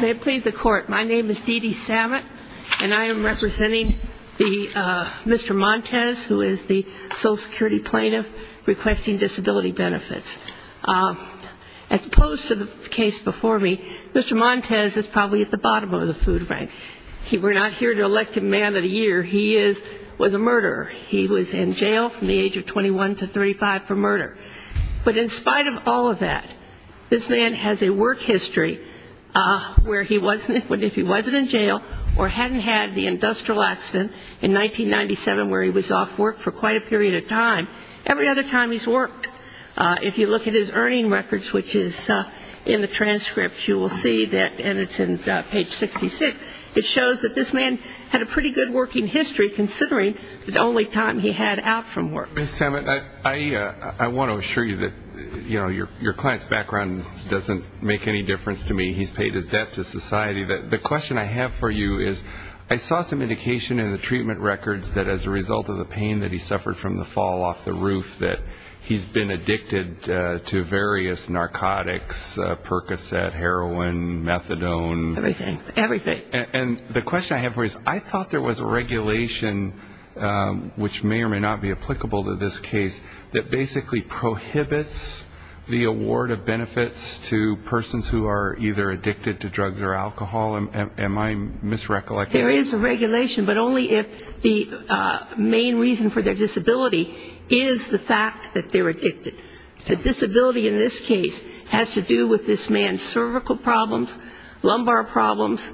May it please the court, my name is Dee Dee Samet and I am representing Mr. Montez who is the Social Security Plaintiff requesting disability benefits. As opposed to the case before me, Mr. Montez is probably at the bottom of the food bank. We're not here to elect a man of the year, he was a murderer. He was in jail from the age of 21 to 35 for murder. But in spite of all of that, this man has a work history where if he wasn't in jail or hadn't had the industrial accident in 1997 where he was off work for quite a period of time, every other time he's worked. If you look at his earning records which is in the transcript you will see that, and it's in page 66, it shows that this man had a pretty good working history considering the only time he had out from work. Ms. Samet, I want to assure you that your client's background doesn't make any difference to me. He's paid his debt to society. The question I have for you is, I saw some indication in the treatment records that as a result of the pain that he suffered from the fall off the roof that he's been addicted to various narcotics, Percocet, heroin, methadone. Everything, everything. And the question I have for you is, I thought there was a regulation which may or may not be applicable to this case that basically prohibits the award of benefits to persons who are either addicted to drugs or alcohol. Am I misrecollecting? There is a regulation, but only if the main reason for their disability is the fact that they're addicted. The disability in this case has to do with this man's cervical problems, lumbar problems,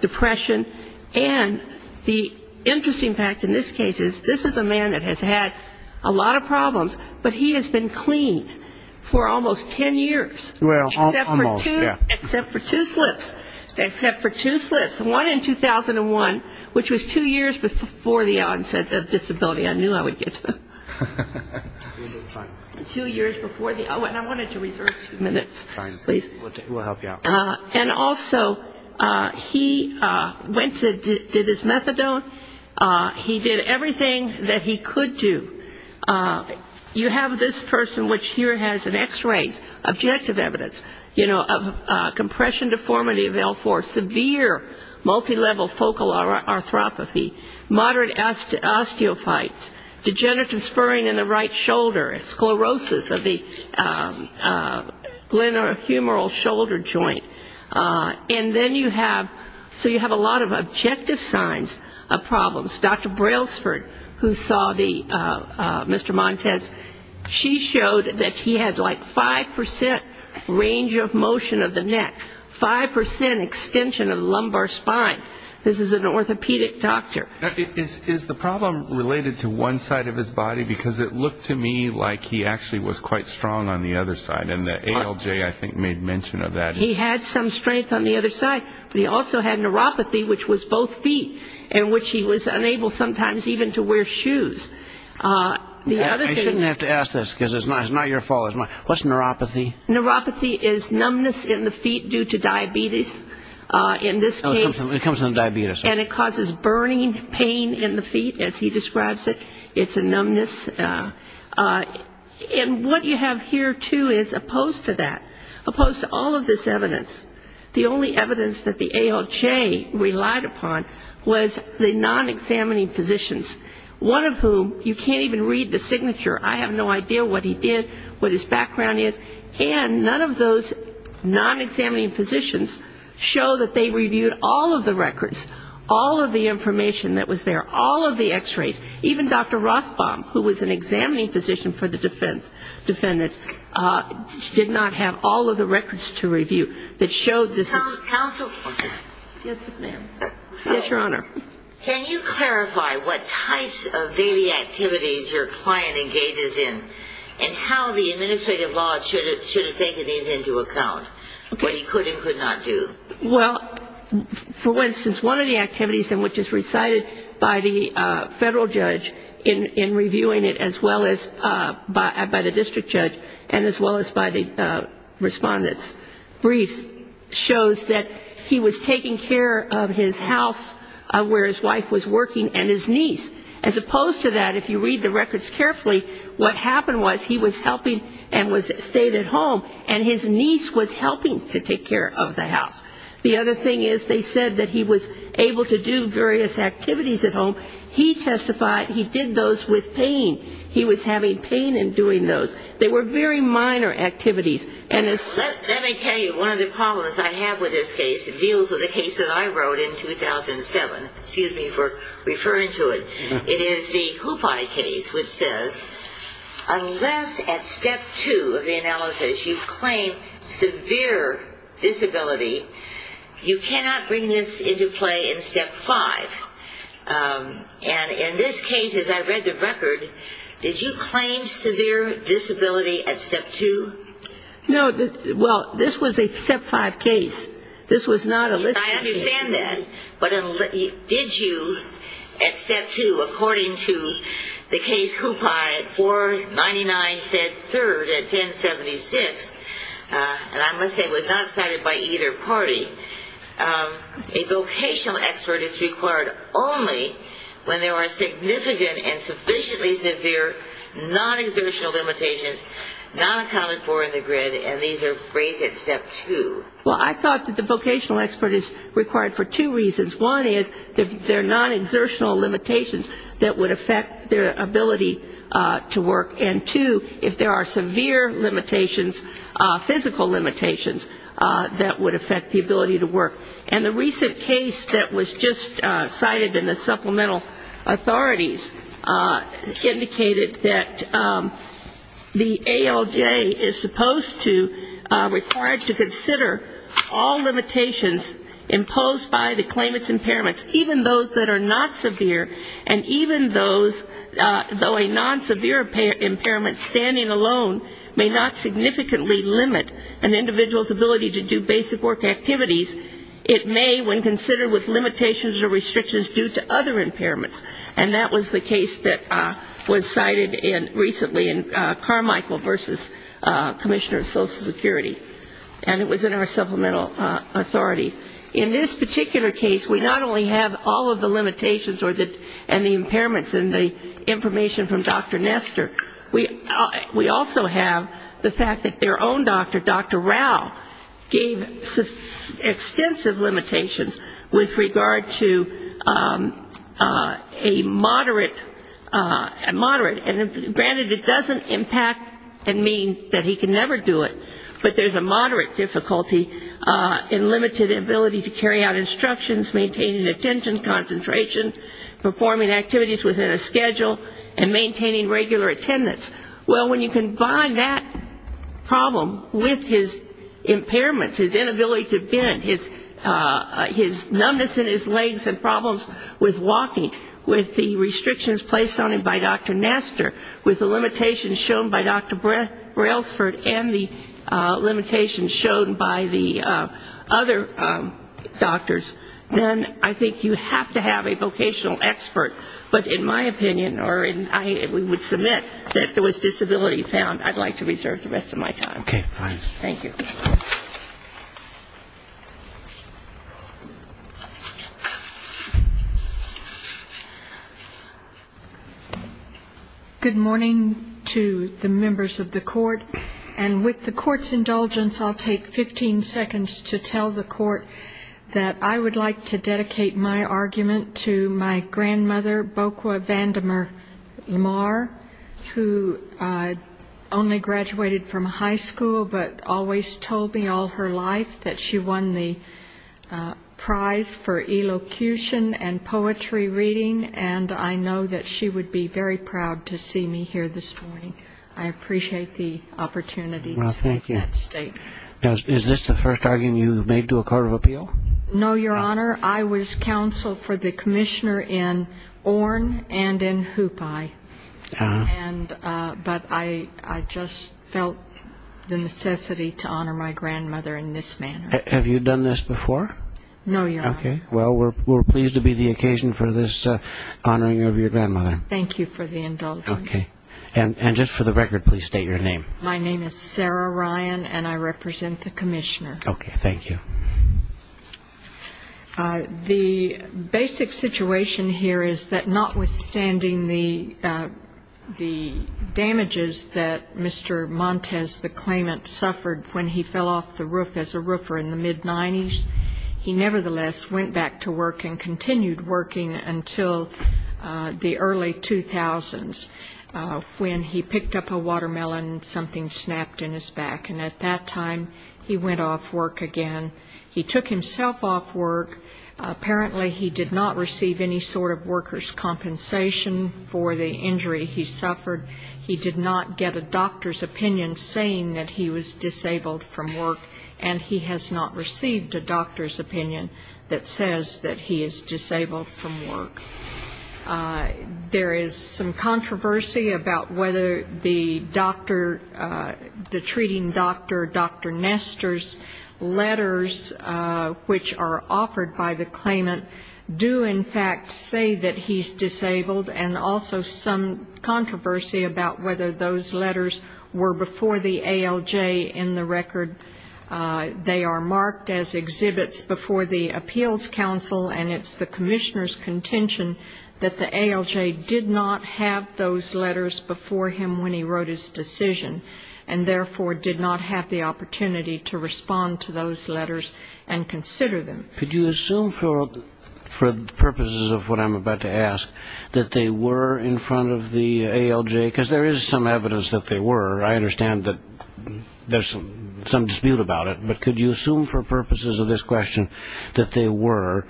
depression, and the interesting fact in this case is this is a man that has had a lot of problems, but he has been clean for almost ten years. Well, almost, yeah. Except for two slips. Except for two slips. One in 2001, which was two years before the onset of disability. I knew I would get to it. Two years before the, oh, and I wanted to reserve a few minutes. Fine. Please. We'll help you out. And also he went to, did his methadone. He did everything that he could do. You have this person, which here has an X-ray, objective evidence, you know, of compression deformity of L4, severe multilevel focal arthropathy, moderate osteophytes, degenerative spurring in the right shoulder, sclerosis of the glenohumeral shoulder joint, and then you have, so you have a lot of objective signs of problems. Dr. Brailsford, who saw Mr. Montes, she showed that he had like 5% range of motion of the neck, 5% extension of the lumbar spine. This is an orthopedic doctor. Is the problem related to one side of his body? Because it looked to me like he actually was quite strong on the other side, and the ALJ, I think, made mention of that. He had some strength on the other side, but he also had neuropathy, which was both feet, and which he was unable sometimes even to wear shoes. I shouldn't have to ask this, because it's not your fault. What's neuropathy? Neuropathy is numbness in the feet due to diabetes, in this case. It comes from diabetes. And it causes burning pain in the feet, as he describes it. It's a numbness. And what you have here, too, is opposed to that, opposed to all of this evidence. The only evidence that the ALJ relied upon was the non-examining physicians, one of whom you can't even read the signature. I have no idea what he did, what his background is. And none of those non-examining physicians show that they reviewed all of the records, all of the information that was there, all of the X-rays. Even Dr. Rothbaum, who was an examining physician for the defendants, did not have all of the records to review that showed this. Counsel? Yes, ma'am. Yes, Your Honor. Can you clarify what types of daily activities your client engages in, and how the administrative law should have taken these into account, what he could and could not do? Well, for instance, one of the activities in which is recited by the federal judge in reviewing it, as well as by the district judge and as well as by the respondent's brief, shows that he was taking care of his house where his wife was working and his niece. As opposed to that, if you read the records carefully, what happened was he was helping and stayed at home, and his niece was helping to take care of the house. The other thing is they said that he was able to do various activities at home. He testified he did those with pain. He was having pain in doing those. They were very minor activities. Let me tell you one of the problems I have with this case. It deals with a case that I wrote in 2007. Excuse me for referring to it. It is the Hoopi case, which says, unless at step two of the analysis you claim severe disability, you cannot bring this into play in step five. And in this case, as I read the record, did you claim severe disability at step two? No. Well, this was a step five case. This was not a list case. I understand that. But did you at step two, according to the case Hoopi 499-3 at 1076, and I'm going to say it was not cited by either party, a vocational expert is required only when there are significant and sufficiently severe non-exertional limitations not accounted for in the grid, and these are raised at step two. Well, I thought that the vocational expert is required for two reasons. One is there are non-exertional limitations that would affect their ability to work, and two, if there are severe limitations, physical limitations, that would affect the ability to work. And the recent case that was just cited in the supplemental authorities indicated that the ALJ is supposed to, required to consider all limitations imposed by the claimant's impairments, even those that are not severe, and even those, though a non-severe impairment standing alone may not significantly limit an individual's ability to do basic work activities, it may when considered with limitations or restrictions due to other impairments. And that was the case that was cited recently in Carmichael v. Commissioner of Social Security, and it was in our supplemental authority. In this particular case, we not only have all of the limitations and the impairments and the information from Dr. Nestor, we also have the fact that their own doctor, Dr. Rao, gave extensive limitations with regard to a moderate, and granted it doesn't impact and mean that he can never do it, but there's a moderate difficulty in limited ability to carry out instructions, maintaining attention, concentration, performing activities within a schedule, and maintaining regular attendance. Well, when you combine that problem with his impairments, his inability to bend, his numbness in his legs and problems with walking, with the restrictions placed on him by Dr. Nestor, with the limitations shown by Dr. Brailsford and the limitations shown by the other doctors, then I think you have to have a vocational expert. But in my opinion, or I would submit that if there was disability found, I'd like to reserve the rest of my time. Thank you. Good morning to the members of the court. And with the court's indulgence, I'll take 15 seconds to tell the court that I would like to dedicate my argument to my grandmother, Bokwa Vandemar Lamar, who only graduated from high school but always told me all her life that she won the prize for elocution and poetry reading, and I know that she would be very proud to see me here this morning. I appreciate the opportunity to make that statement. Is this the first argument you've made to a court of appeal? No, Your Honor. I was counsel for the commissioner in Orne and in Hoopi, but I just felt the necessity to honor my grandmother in this manner. Have you done this before? No, Your Honor. Okay. Well, we're pleased to be the occasion for this honoring of your grandmother. Thank you for the indulgence. Okay. And just for the record, please state your name. My name is Sarah Ryan, and I represent the commissioner. Okay. Thank you. The basic situation here is that notwithstanding the damages that Mr. Montes, the claimant, suffered when he fell off the roof as a roofer in the mid-'90s, he nevertheless went back to work and continued working until the early 2000s when he picked up a watermelon and something snapped in his back, and at that time he went off work again. He took himself off work. Apparently he did not receive any sort of workers' compensation for the injury he suffered. He did not get a doctor's opinion saying that he was disabled from work, and he has not received a doctor's opinion that says that he is disabled from work. There is some controversy about whether the doctor, the treating doctor, Dr. Nestor's letters, which are offered by the claimant, do in fact say that he's disabled, and also some controversy about whether those letters were before the ALJ in the record. They are marked as exhibits before the appeals council, and it's the commissioner's contention that the ALJ did not have those letters before him when he wrote his decision, and therefore did not have the opportunity to respond to those letters and consider them. Could you assume, for the purposes of what I'm about to ask, that they were in front of the ALJ? Because there is some evidence that they were. I understand that there's some dispute about it, but could you assume for purposes of this question that they were?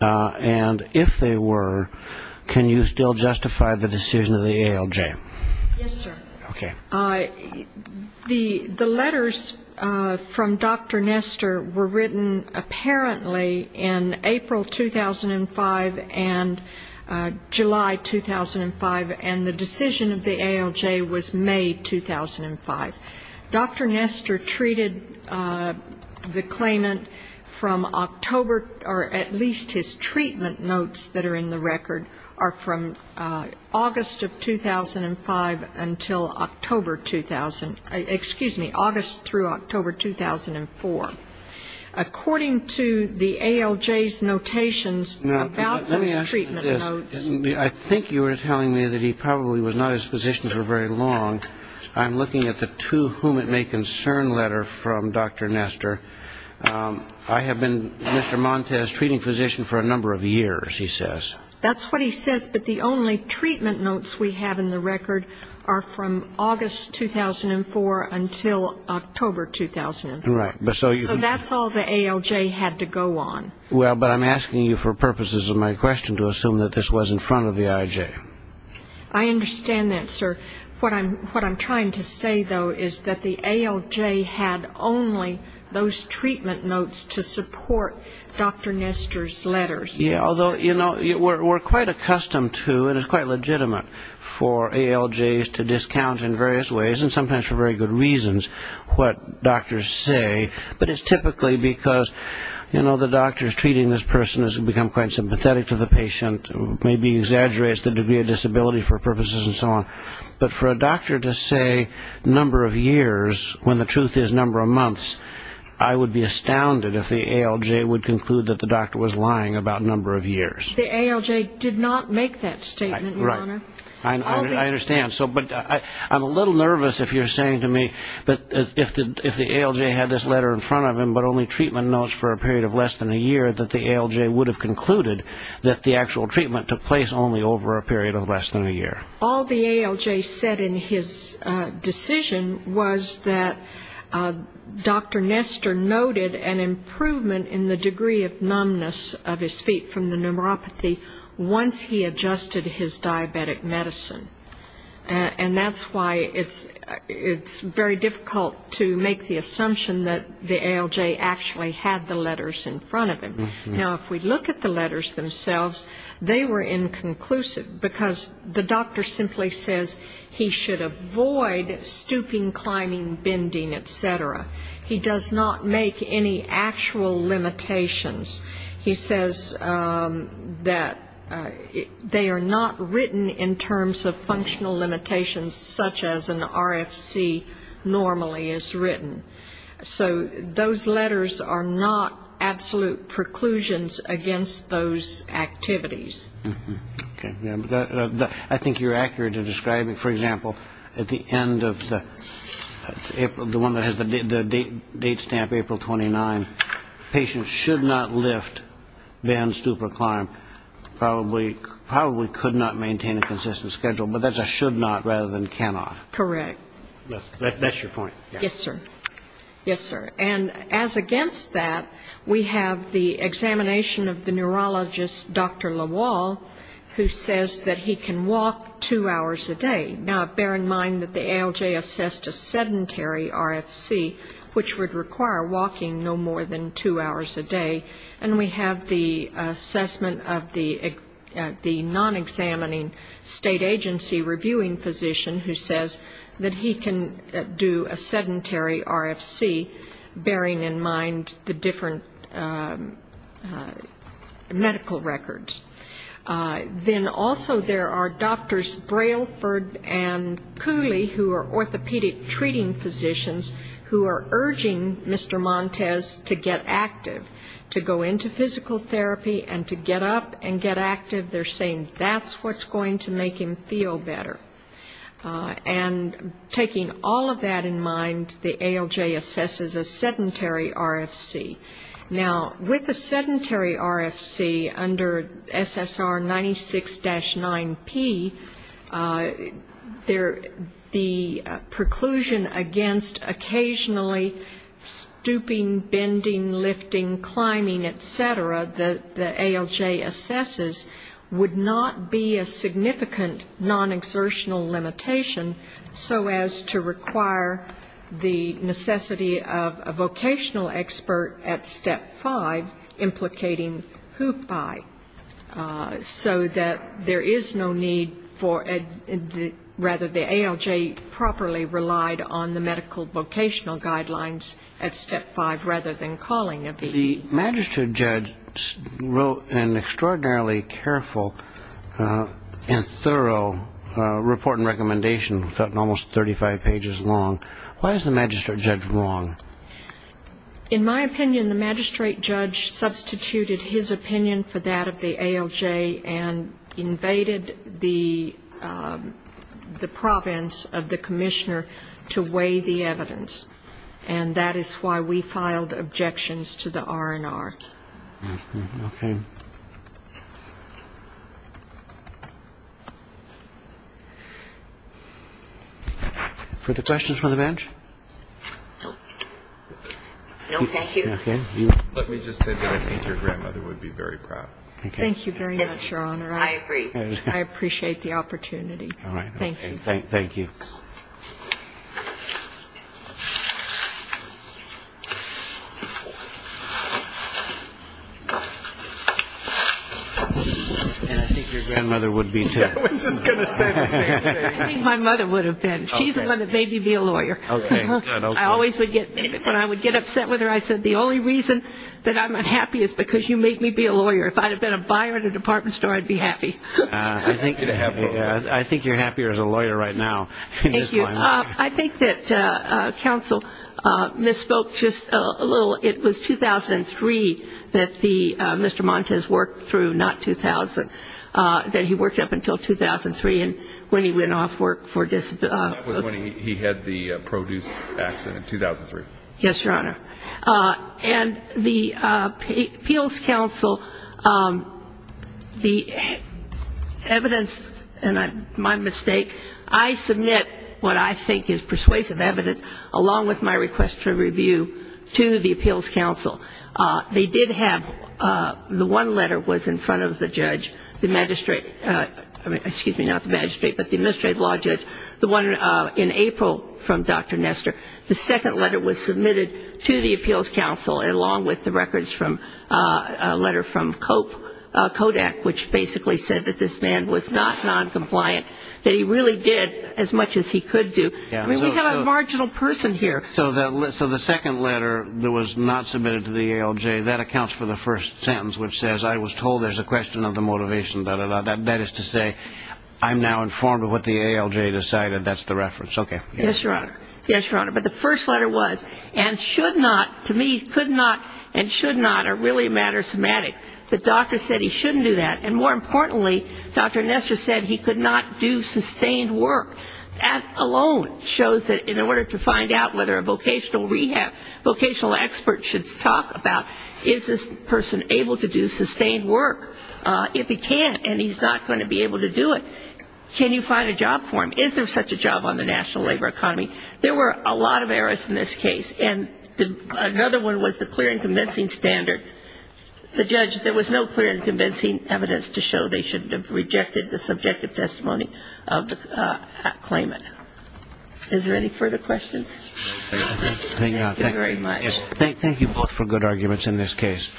And if they were, can you still justify the decision of the ALJ? Yes, sir. Okay. The letters from Dr. Nestor were written apparently in April 2005 and July 2005, and the decision of the ALJ was May 2005. Dr. Nestor treated the claimant from October, or at least his treatment notes that are in the record are from August of 2005 until October 2000. Excuse me, August through October 2004. According to the ALJ's notations about those treatment notes. I think you were telling me that he probably was not his physician for very long. I'm looking at the to whom it may concern letter from Dr. Nestor. I have been Mr. Montez's treating physician for a number of years, he says. That's what he says, but the only treatment notes we have in the record are from August 2004 until October 2004. Right. So that's all the ALJ had to go on. Well, but I'm asking you for purposes of my question to assume that this was in front of the IJ. I understand that, sir. What I'm trying to say, though, is that the ALJ had only those treatment notes to support Dr. Nestor's letters. Yeah, although, you know, we're quite accustomed to and it's quite legitimate for ALJs to discount in various ways and sometimes for very good reasons what doctors say, but it's typically because, you know, the doctor's treating this person has become quite sympathetic to the patient, maybe exaggerates the degree of disability for purposes and so on. But for a doctor to say number of years when the truth is number of months, I would be astounded if the ALJ would conclude that the doctor was lying about number of years. The ALJ did not make that statement, Your Honor. I understand, but I'm a little nervous if you're saying to me that if the ALJ had this letter in front of him but only treatment notes for a period of less than a year, that the ALJ would have concluded that the actual treatment took place only over a period of less than a year. All the ALJ said in his decision was that Dr. Nestor noted an improvement in the degree of numbness of his feet from the neuropathy once he adjusted his diabetic medicine. And that's why it's very difficult to make the assumption that the ALJ actually had the letters in front of him. Now, if we look at the letters themselves, they were inconclusive, because the doctor simply says he should avoid stooping, climbing, bending, et cetera. He does not make any actual limitations. He says that they are not written in terms of functional limitations such as an RFC normally is written. So those letters are not absolute preclusions against those activities. Okay. I think you're accurate in describing, for example, at the end of the one that has the date stamp, April 29, patients should not lift, bend, stoop, or climb, probably could not maintain a consistent schedule, but that's a should not rather than cannot. Correct. That's your point. Yes, sir. Yes, sir. And as against that, we have the examination of the neurologist, Dr. Lawal, who says that he can walk two hours a day. Now, bear in mind that the ALJ assessed a sedentary RFC, which would require walking no more than two hours a day. And we have the assessment of the non-examining state agency reviewing physician, who says that he can do a sedentary RFC, bearing in mind the different medical records. Then also there are doctors Brailford and Cooley, who are orthopedic treating physicians, who are urging Mr. Montes to get active, to go into physical therapy and to get up and get active. They're saying that's what's going to make him feel better. And taking all of that in mind, the ALJ assesses a sedentary RFC. Now, with a sedentary RFC under SSR 96-9P, the preclusion against occasionally stooping, bending, lifting, climbing, et cetera, that the ALJ assesses would not be a significant non-exertional limitation so as to require the necessity of a vocational expert at Step 5 implicating whoop-by, so that there is no need for the ALJ properly relied on the medical vocational guidelines at Step 5 rather than calling a bee. The magistrate judge wrote an extraordinarily careful and thorough report and recommendation, something almost 35 pages long. Why is the magistrate judge wrong? In my opinion, the magistrate judge substituted his opinion for that of the ALJ and invaded the province of the commissioner to weigh the evidence. And that is why we filed objections to the R&R. Okay. Further questions from the bench? No, thank you. Okay. Let me just say that I think your grandmother would be very proud. Thank you very much, Your Honor. I agree. I appreciate the opportunity. All right. Thank you. And I think your grandmother would be too. I was just going to say the same thing. I think my mother would have been. She's the one that made me be a lawyer. Okay. I always would get, when I would get upset with her, I said, the only reason that I'm unhappy is because you made me be a lawyer. If I had been a buyer at a department store, I'd be happy. Thank you. I think that counsel misspoke just a little. It was 2003 that Mr. Montes worked through, not 2000, that he worked up until 2003 when he went off work for disability. That was when he had the produce accident, 2003. Yes, Your Honor. And the appeals counsel, the evidence, and my mistake, I submit what I think is persuasive evidence, along with my request for review, to the appeals counsel. They did have, the one letter was in front of the judge, the magistrate, excuse me, not the magistrate, but the administrative law judge, the one in April from Dr. Nestor. The second letter was submitted to the appeals counsel, along with the records from a letter from Kodak, which basically said that this man was not noncompliant, that he really did as much as he could do. I mean, we have a marginal person here. So the second letter that was not submitted to the ALJ, that accounts for the first sentence, which says, I was told there's a question of the motivation, da, da, da. That is to say, I'm now informed of what the ALJ decided. That's the reference. Okay. Yes, Your Honor. Yes, Your Honor. But the first letter was, and should not, to me, could not, and should not are really a matter of semantics. The doctor said he shouldn't do that. And more importantly, Dr. Nestor said he could not do sustained work. That alone shows that in order to find out whether a vocational rehab, vocational expert should talk about, is this person able to do sustained work? If he can't and he's not going to be able to do it, can you find a job for him? Is there such a job on the national labor economy? There were a lot of errors in this case, and another one was the clear and convincing standard. The judge, there was no clear and convincing evidence to show they shouldn't have rejected the subjective testimony of the claimant. Is there any further questions? Thank you, Your Honor. Thank you very much. Thank you both for good arguments in this case.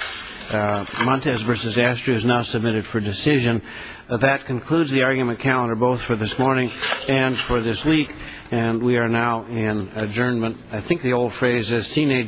Montez v. Astrie is now submitted for decision. That concludes the argument calendar, both for this morning and for this week, and we are now in adjournment. I think the old phrase is sine diem.